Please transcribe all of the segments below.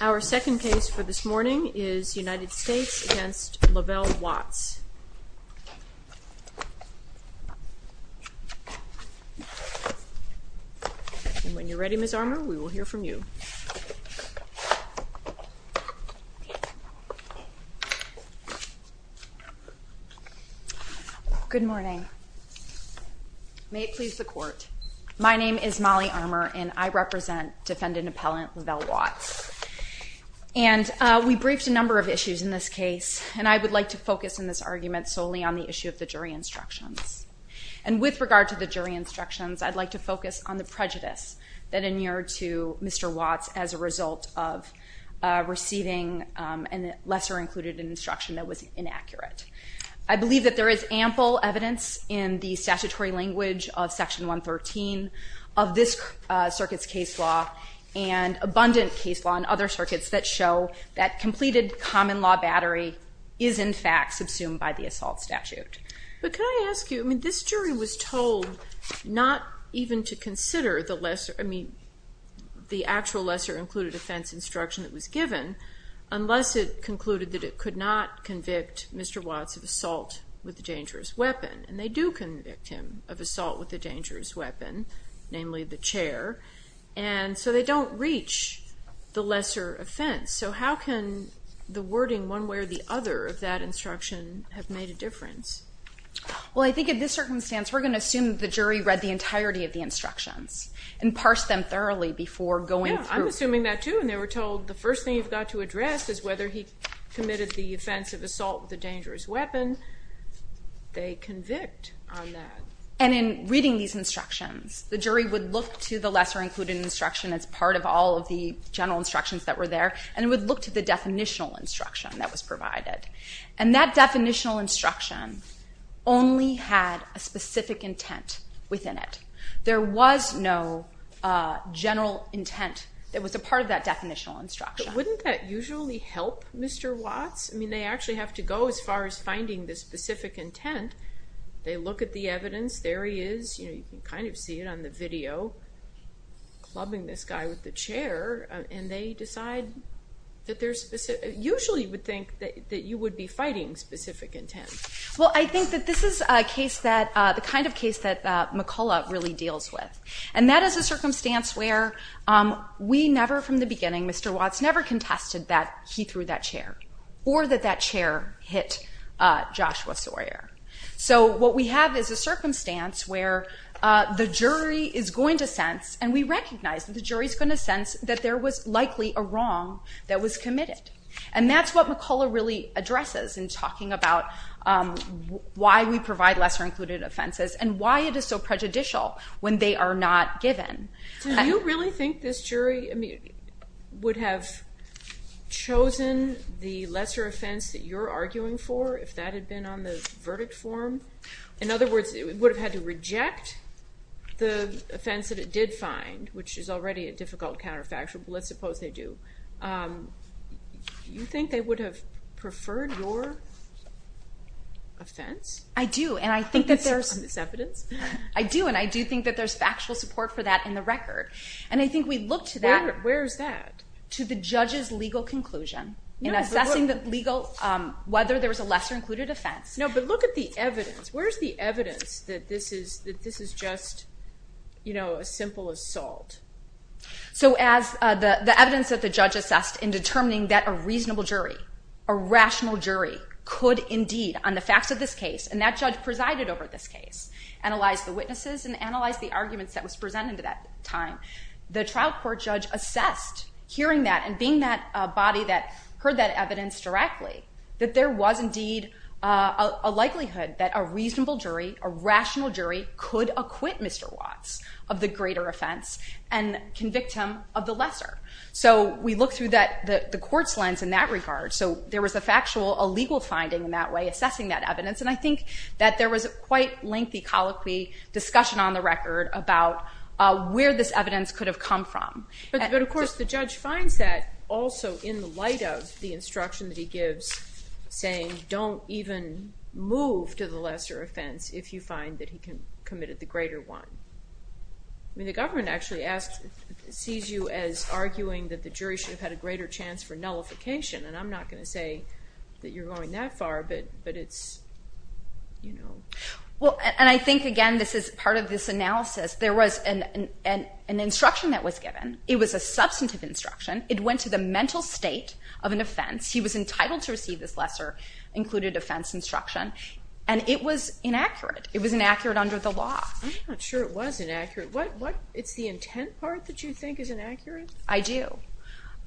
Our second case for this morning is United States v. Lavelle Watts. And when you're ready, Ms. Armour, we will hear from you. Good morning. May it please the court. My name is Molly Armour and I represent defendant appellant Lavelle Watts. And we briefed a number of issues in this case, and I would like to focus in this argument solely on the issue of the jury instructions. And with regard to the jury instructions, I'd like to focus on the prejudice that inured to Mr. Watts as a result of receiving a lesser included instruction that was inaccurate. I believe that there is ample evidence in the statutory language of Section 113 of this circuit's case law and abundant case law in other circuits that show that completed common law battery is in fact subsumed by the assault statute. But can I ask you, I mean, this jury was told not even to consider the lesser, I mean, the actual lesser included offense instruction that was given unless it concluded that it could not convict Mr. Watts of assault with a dangerous weapon, namely the chair. And so they don't reach the lesser offense. So how can the wording one way or the other of that instruction have made a difference? Well, I think in this circumstance, we're going to assume that the jury read the entirety of the instructions and parsed them thoroughly before going through. Yeah, I'm assuming that too. And they were told the first thing you've got to address is whether he committed the offense of assault with a dangerous weapon. They convict on that. And in reading these instructions, the jury would look to the lesser included instruction as part of all of the general instructions that were there and would look to the definitional instruction that was provided. And that definitional instruction only had a specific intent within it. There was no general intent that was a part of that definitional instruction. Wouldn't that usually help Mr. Watts? I mean, they actually have to go as far as finding the specific intent. They look at the evidence. There he is. You know, you can kind of see it on the video, clubbing this guy with the chair. And they decide that they're specific. Usually you would think that you would be fighting specific intent. Well, I think that this is a case that the kind of case that McCullough really deals with. And that is a circumstance where we never from the beginning, Mr. Watts never contested that he threw that chair or that that Joshua Sawyer. So what we have is a circumstance where the jury is going to sense and we recognize that the jury is going to sense that there was likely a wrong that was committed. And that's what McCullough really addresses in talking about why we provide lesser included offenses and why it is so prejudicial when they are not given. Do you really think this jury would have chosen the lesser offense that you're arguing for if that had been on the verdict form? In other words, it would have had to reject the offense that it did find, which is already a difficult counterfactual. Let's suppose they do. Do you think they would have preferred your offense? I do. And I think that there's evidence. I do. And I do think that there's factual support for that in the record. And I think we look to that. Where is that? To the judge's legal conclusion in assessing whether there was a lesser included offense. No, but look at the evidence. Where's the evidence that this is just a simple assault? So as the evidence that the judge assessed in determining that a reasonable jury, a rational jury, could indeed on the facts of this case, and that judge presided over this case, analyze the witnesses and analyze the arguments that was presented at that time, the trial court judge assessed hearing that, and being that a body that heard that evidence directly, that there was indeed a likelihood that a reasonable jury, a rational jury, could acquit Mr. Watts of the greater offense and convict him of the lesser. So we look through the court's lens in that regard. So there was a factual, a legal finding in that way assessing that evidence. And I think that there was a quite lengthy colloquy discussion on the record about where this evidence could have come from. But of course the judge finds that also in the light of the instruction that he gives saying don't even move to the lesser offense if you find that he committed the greater one. I mean the government actually asks, sees you as arguing that the jury should have had a greater chance for nullification. And I'm not going to say that you're going that far, but it's, you know. Well and I think again this is part of this analysis. There was an instruction that was given. It was a substantive instruction. It went to the mental state of an offense. He was entitled to receive this lesser included offense instruction. And it was inaccurate. It was inaccurate under the law. I'm not sure it was inaccurate. What, it's the intent part that you think is inaccurate? I do.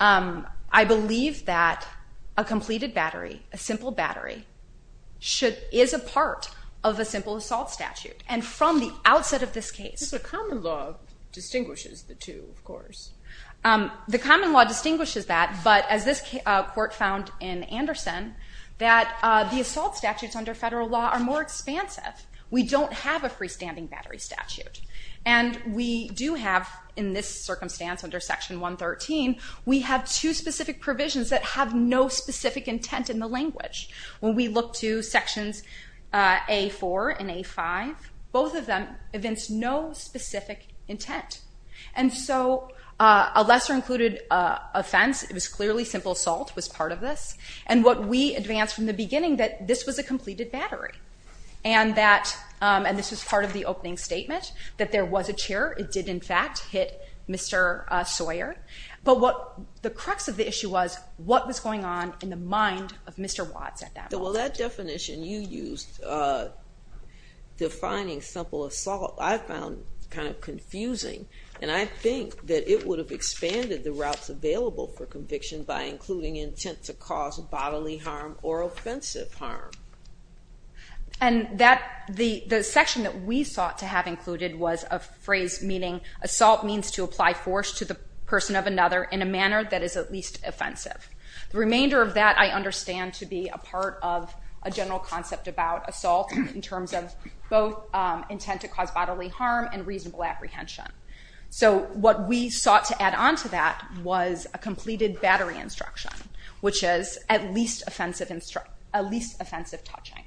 I believe that a completed battery, a simple battery, should, is a part of a simple assault statute. And from the outset of this case. The common law distinguishes the two of course. The common law distinguishes that, but as this court found in Anderson, that the assault statutes under federal law are more expansive. We don't have a freestanding battery statute. And we do have, in this circumstance under section 113, we have two specific provisions that have no specific intent in the language. When we look to sections A4 and A5, both of them evince no specific intent. And so a lesser included offense, it was clearly simple assault, was part of this. And what we advanced from the beginning that this was a completed battery. And that, and this was part of the opening statement, that there was a chair. It did in fact hit Mr. Sawyer. But what the crux of the issue was, what was going on in the mind of Mr. Watts at that moment? Well that definition you used, defining simple assault, I found kind of confusing. And I think that it would have expanded the routes available for conviction by including intent to cause bodily harm or offensive harm. And that, the section that we sought to have included was a phrase meaning, assault means to apply force to the person of another in a manner that is at least offensive. The remainder of that I understand to be a part of a general concept about assault in terms of both intent to cause bodily harm and reasonable apprehension. So what we sought to add on to that was a completed battery instruction, which is at least offensive touching.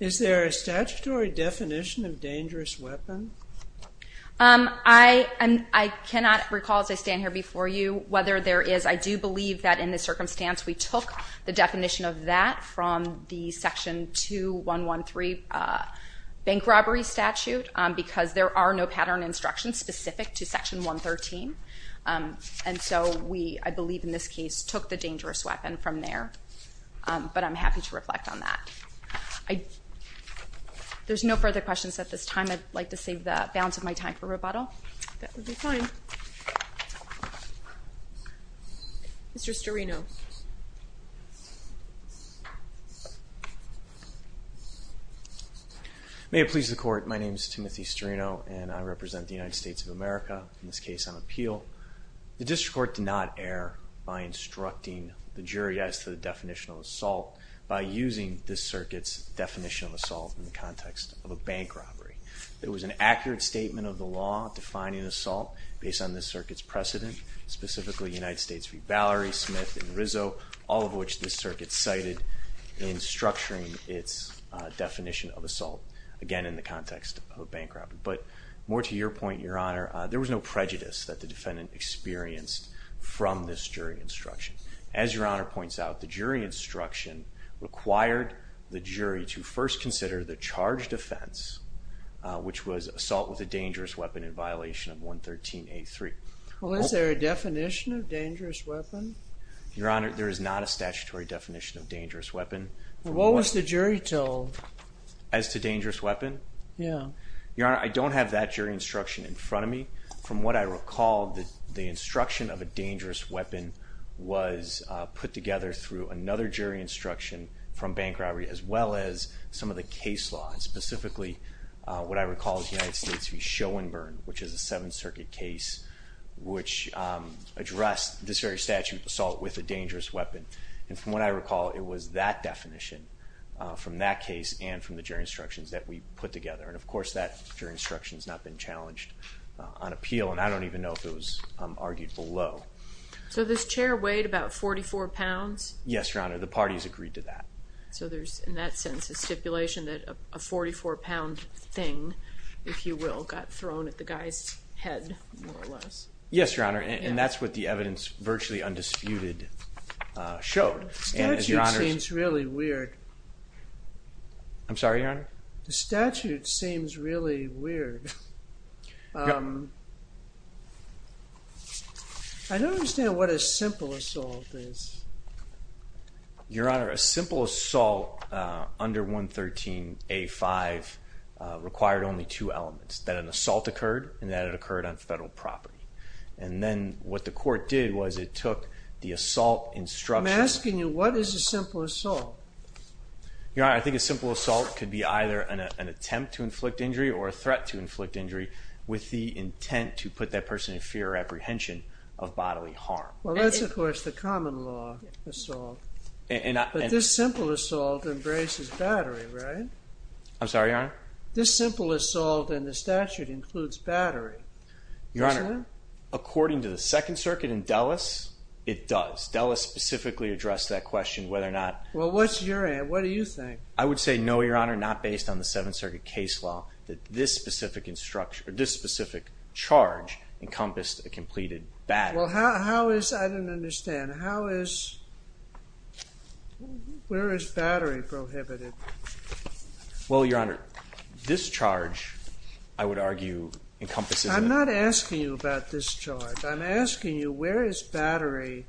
Is there a statutory definition of dangerous weapon? I cannot recall as I stand here before you whether there is. I do believe that in this circumstance we took the definition of that from the section 2113 bank robbery statute, because there are no pattern instructions specific to section 113. And so we, I believe in this case, took the dangerous weapon from there. But I'm happy to reflect on that. There's no further questions at this time. I'd like to save the balance of my time for rebuttal. That would be fine. Mr. Storino. May it please the court, my name is Timothy Storino and I represent the United States of America in this case on appeal. The district court did not err by instructing the jury as to the definition of assault by using this circuit's definition of assault in the context of a bank robbery. It was an accurate statement of the law defining assault based on this circuit's precedent, specifically United States v. Valerie Smith and Rizzo, all of which this circuit cited in structuring its definition of assault, again in the context of a bank robbery. But more to your point, your honor, there was no prejudice that the defendant experienced from this jury instruction. As your honor points out, the jury instruction required the jury to first consider the charged offense, which was assault with a dangerous weapon in violation of 113.83. Well is there a definition of dangerous weapon? Your honor, there is not a statutory definition of dangerous weapon. What was the jury told? As to dangerous weapon? Yeah. Your honor, I don't have that jury instruction in front of me. From what I recall, the instruction of a dangerous weapon was put together through another jury instruction from bank robbery, as well as some of the case law, and specifically what I recall is United States v. Schoenberg, which is a Seventh Circuit case, which addressed this very statute, assault with a dangerous weapon. And from what I recall, it was that definition from that case and from the jury instructions that we put together. And of course, that jury instruction has not been challenged on appeal, and I don't even know if it was argued below. So this chair weighed about 44 pounds? Yes, your honor, the parties agreed to that. So there's in that sense, a stipulation that a 44 pound thing, if you will, got thrown at the guy's head, more or less. Yes, your honor, and that's what the evidence, virtually undisputed, showed. The statute seems really weird. I'm sorry, your honor? The statute seems really weird. I don't understand what a simple assault is. Your honor, a simple assault under 113A5 required only two elements, that an assault occurred, and that it occurred on federal property. And then what the court did was it took the assault instruction... I'm asking you, what is a simple assault? Your honor, I think a simple assault could be either an attempt to inflict injury or a threat to inflict injury with the intent to put that person in fear or apprehension of bodily harm. Well, that's, of course, the common law assault. But this simple assault embraces battery, right? I'm sorry, your honor? This simple assault in the statute includes battery. Your honor, according to the Second Circuit in Dulles, it does. Dulles specifically addressed that question, whether or not... Well, what's your... What do you think? I would say, no, your honor, not based on the Seventh Circuit case law, that this specific charge encompassed a completed battery. Well, how is... I don't understand. Where is battery prohibited? Well, your honor, this charge, I would argue, encompasses... I'm not asking you about this charge. I'm asking you, where is battery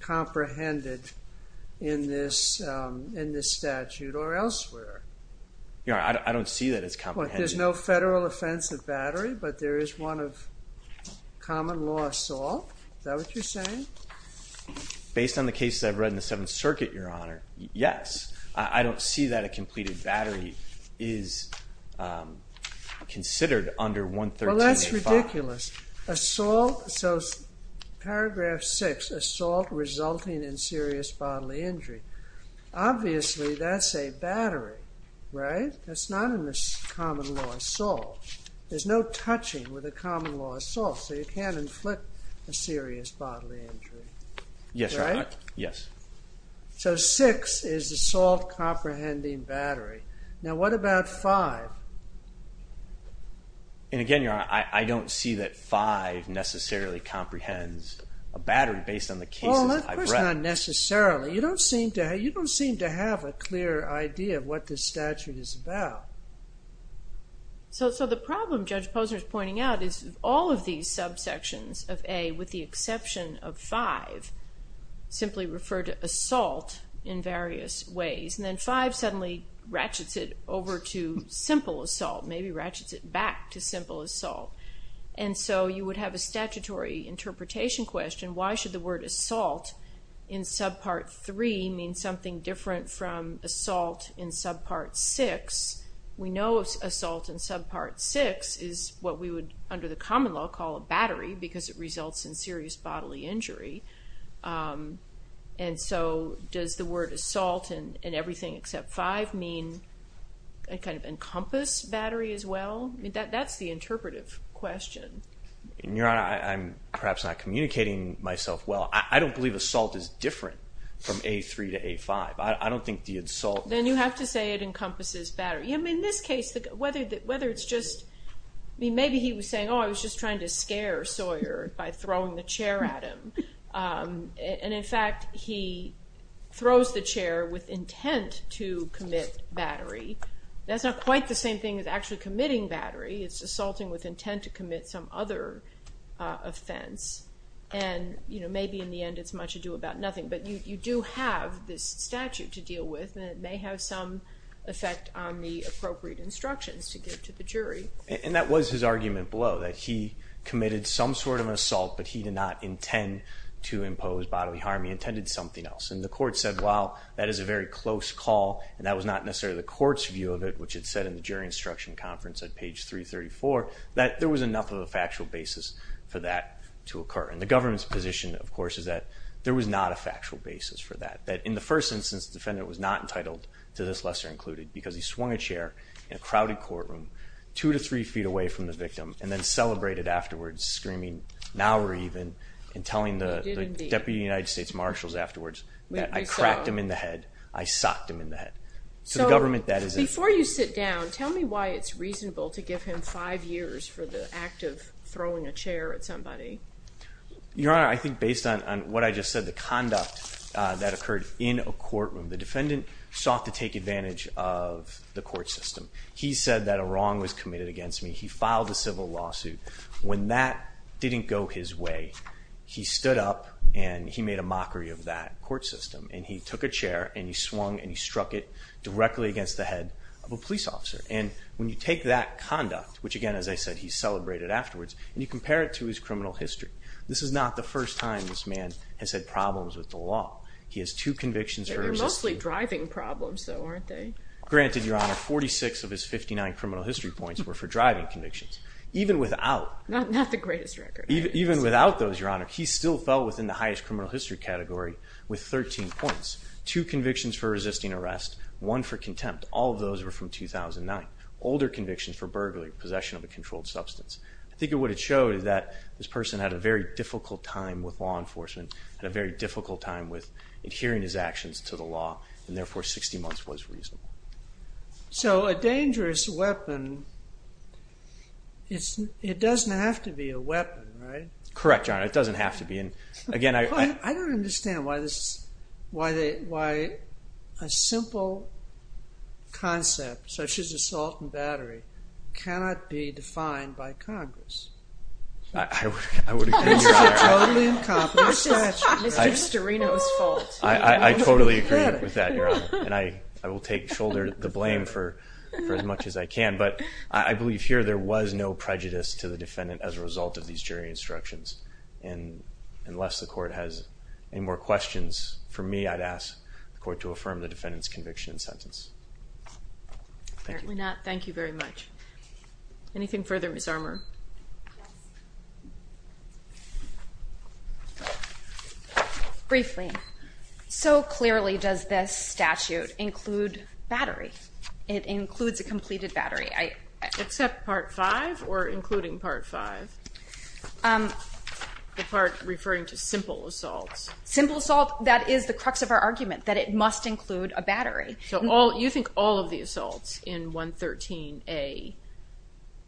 comprehended in this statute or there's no federal offense of battery, but there is one of common law assault. Is that what you're saying? Based on the cases I've read in the Seventh Circuit, your honor, yes. I don't see that a completed battery is considered under 113. Well, that's ridiculous. Assault, so paragraph six, assault resulting in serious bodily injury. Obviously, that's a battery, right? That's not in this common law assault. There's no touching with a common law assault, so you can't inflict a serious bodily injury. Yes, your honor. Right? Yes. So, six is assault comprehending battery. Now, what about five? And again, your honor, I don't see that five necessarily comprehends a battery based on the cases I've read. Well, not necessarily. You don't seem to have a clear idea of what this statute is about. So, the problem Judge Posner is pointing out is all of these subsections of A, with the exception of five, simply refer to assault in various ways. And then five suddenly ratchets it over to simple assault, maybe ratchets it back to simple assault. And so, you would have a statutory interpretation question, why should the word assault in subpart three mean something different from assault in subpart six? We know assault in subpart six is what we would, under the common law, call a battery because it results in serious bodily injury. And so, does the word assault in everything except five mean a kind of encompass battery as well? That's the interpretive question. And your honor, I'm perhaps not communicating myself well. I don't believe assault is different from A3 to A5. I don't think the insult... Then you have to say it encompasses battery. I mean, in this case, whether it's just, I mean, maybe he was saying, oh, I was just trying to scare Sawyer by throwing the chair at him. And in fact, he throws the chair with intent to commit battery. That's not quite the same thing as actually committing battery. It's assaulting with intent to commit some other offense. And maybe in the end, it's much ado about nothing. But you do have this statute to deal with, and it may have some effect on the appropriate instructions to give to the jury. And that was his argument below, that he committed some sort of assault, but he did not intend to impose bodily harm. He intended something else. And the court said, well, that is a very close call. And that was not necessarily the court's view of it, which said in the jury instruction conference at page 334, that there was enough of a factual basis for that to occur. And the government's position, of course, is that there was not a factual basis for that. That in the first instance, the defendant was not entitled to this, lesser included, because he swung a chair in a crowded courtroom, two to three feet away from the victim, and then celebrated afterwards, screaming, now we're even, and telling the Deputy United States Marshals afterwards that I cracked him in the head, I socked him in the head. So the government, that is a... Before you sit down, tell me why it's reasonable to give him five years for the act of throwing a chair at somebody. Your Honor, I think based on what I just said, the conduct that occurred in a courtroom, the defendant sought to take advantage of the court system. He said that a wrong was committed against me. He filed a civil lawsuit. When that didn't go his way, he stood up and he made a mockery of that court system. And he took a chair and he swung and he struck it directly against the head of a police officer. And when you take that conduct, which again, as I said, he celebrated afterwards, and you compare it to his criminal history, this is not the first time this man has had problems with the law. He has two convictions... They were mostly driving problems though, aren't they? Granted, Your Honor, 46 of his 59 criminal history points were for driving convictions. Even without... Not the greatest record. Even without those, Your Honor, he still fell within the highest criminal history category with 13 points. Two convictions for resisting arrest, one for contempt. All of those were from 2009. Older convictions for burglary, possession of a controlled substance. I think what it showed is that this person had a very difficult time with law enforcement, had a very difficult time with adhering his actions to the law, and therefore 60 months was reasonable. So a dangerous weapon, it doesn't have to be a weapon, right? Correct, Your Honor. It doesn't have to be. And again, I... I don't understand why a simple concept such as assault and battery cannot be defined by Congress. I would agree, Your Honor. It's a totally incompetent statute. It's Mr. Reno's fault. I totally agree with that, Your Honor, and I will take shoulder the blame for as much as I can. But I believe here there was no prejudice to the defendant as a result of these jury instructions. And unless the court has any more questions for me, I'd ask the court to affirm the defendant's conviction and sentence. Apparently not. Thank you very much. Anything further, Ms. Armour? Yes. Briefly, so clearly does this statute include battery. It includes a completed battery. Except part five or including part five? The part referring to simple assaults. Simple assault, that is the crux of our argument, that it must include a battery. So all, you think all of the assaults in 113A...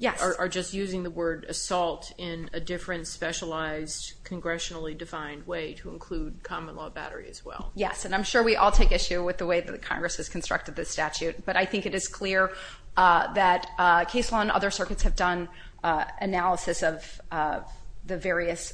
Yes. ...are just using the word assault in a different, specialized, congressionally defined way to include common law battery as well. Yes, and I'm sure we all take issue with the way that Congress has constructed this statute. But I think it is clear that case law and other circuits have done analysis of the various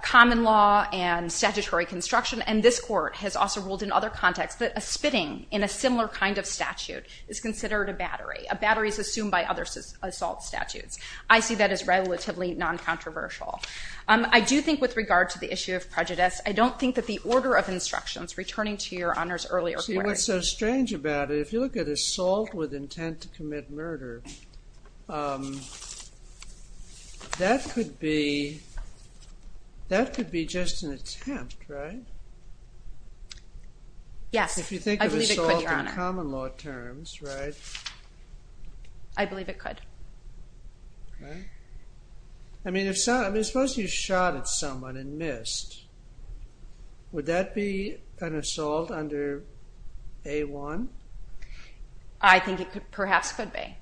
common law and statutory construction. And this court has also ruled in other contexts that a spitting in a similar kind of statute is considered a battery. A battery is assumed by other assault statutes. I see that as relatively non-controversial. I do think with regard to the issue of prejudice, I don't think that the order of instructions returning to Your Honor's earlier query... See, what's so strange about it, if you look at assault with intent to commit murder, that could be just an attempt, right? Yes, I believe it could, Your Honor. In common law terms, right? I believe it could. Okay. I mean, if someone... I mean, suppose you shot at someone and missed. Would that be an assault under A1? I think it perhaps could be.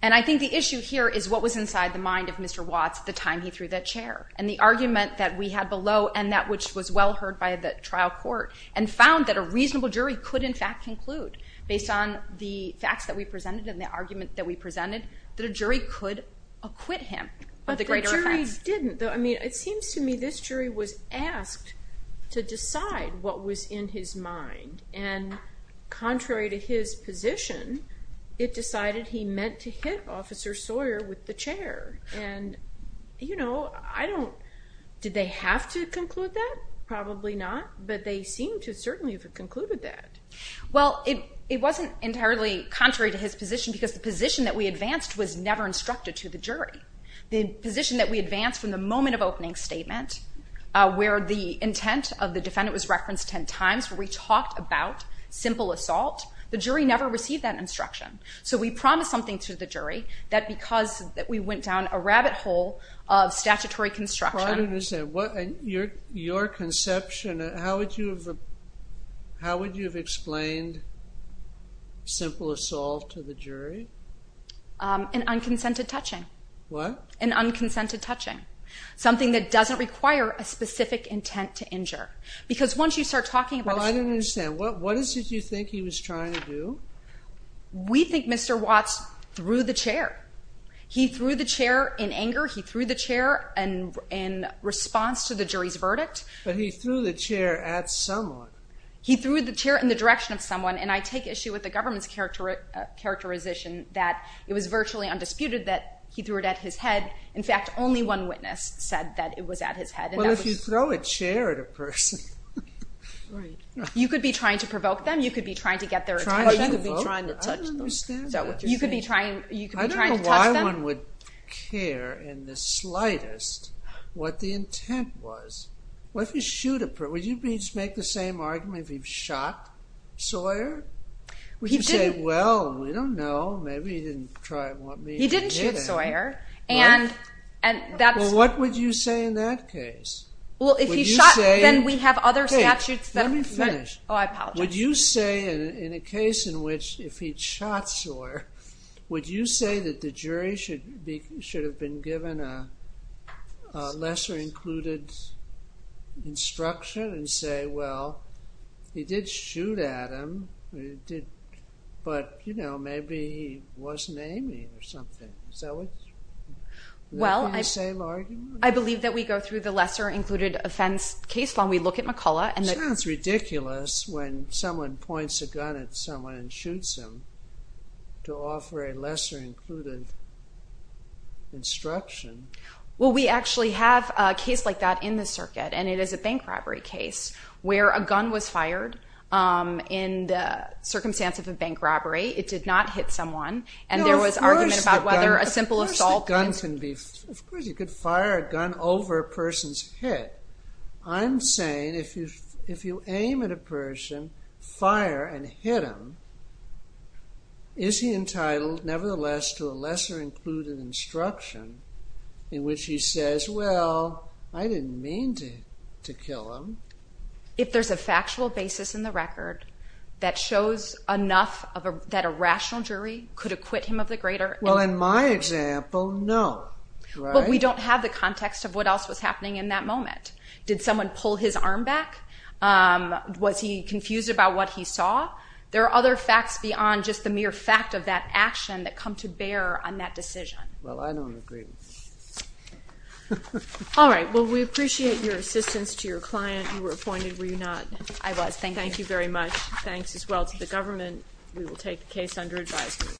And I think the issue here is what was inside the mind of Mr. Watts at the time he threw that chair and the argument that we had below and that which was well heard by the trial court and found that a reasonable jury could, in fact, conclude, based on the facts that we presented and the argument that we presented, that a jury could acquit him of the greater effects. But the jury didn't, though. I mean, it seems to me this jury was asked to decide what was in his mind. And contrary to his position, it decided he meant to hit Officer Sawyer with the chair. And, you know, I don't... Did they have to conclude that? Probably not, but they seemed to certainly have concluded that. Well, it wasn't entirely contrary to his position, because the position that we advanced was never instructed to the jury. The position that we advanced from the moment of opening statement, where the intent of the defendant was referenced 10 times, where we talked about simple assault, the jury never received that instruction. So we promised something to the jury, that because we went down a rabbit hole of statutory construction... I don't understand. Your conception, how would you have explained simple assault to the jury? An unconsented touching. What? An unconsented touching. Something that doesn't require a specific intent to injure. Because once you start talking about... Well, I don't understand. What is it you think he was trying to do? We think Mr. Watts threw the chair. He threw the chair in anger. He threw the chair in response to the jury's verdict. But he threw the chair at someone. He threw the chair in the direction of someone, and I take issue with the government's characterization that it was virtually undisputed that he threw it at his head. In fact, only one witness said that it was at his head. Well, if you throw a chair at a person... Right. You could be trying to provoke them. You could be trying to get their attention. Trying to provoke? I don't understand that. You could be trying to touch them. No one would care in the slightest what the intent was. What if you shoot a person? Would you make the same argument if he shot Sawyer? Would you say, well, we don't know. Maybe he didn't want me to do that. He didn't shoot Sawyer. What would you say in that case? If he shot, then we have other statutes that... Let me finish. Oh, I apologize. Would you say in a case in which if he'd shot Sawyer, would you say that the jury should have been given a lesser-included instruction and say, well, he did shoot at him, but maybe he wasn't aiming or something. Is that what you would say, Laurie? I believe that we go through the lesser-included offense case when we look at McCullough. It sounds ridiculous when someone points a gun at someone and shoots them to offer a lesser-included instruction. Well, we actually have a case like that in the circuit. And it is a bank robbery case where a gun was fired in the circumstance of a bank robbery. It did not hit someone. And there was argument about whether a simple assault... Of course the gun can be... Of course you could fire a gun over a person's head. I'm saying if you aim at a person, fire, and hit him, is he entitled nevertheless to a lesser-included instruction in which he says, well, I didn't mean to kill him? If there's a factual basis in the record that shows enough that a rational jury could acquit him of the greater... Well, in my example, no, right? But we don't have the context of what else was happening in that moment. Did someone pull his arm back? Was he confused about what he saw? There are other facts beyond just the mere fact of that action that come to bear on that decision. Well, I don't agree. All right. Well, we appreciate your assistance to your client. You were appointed, were you not? I was. Thank you. Thank you very much. Thanks as well to the government. We will take the case under advisory.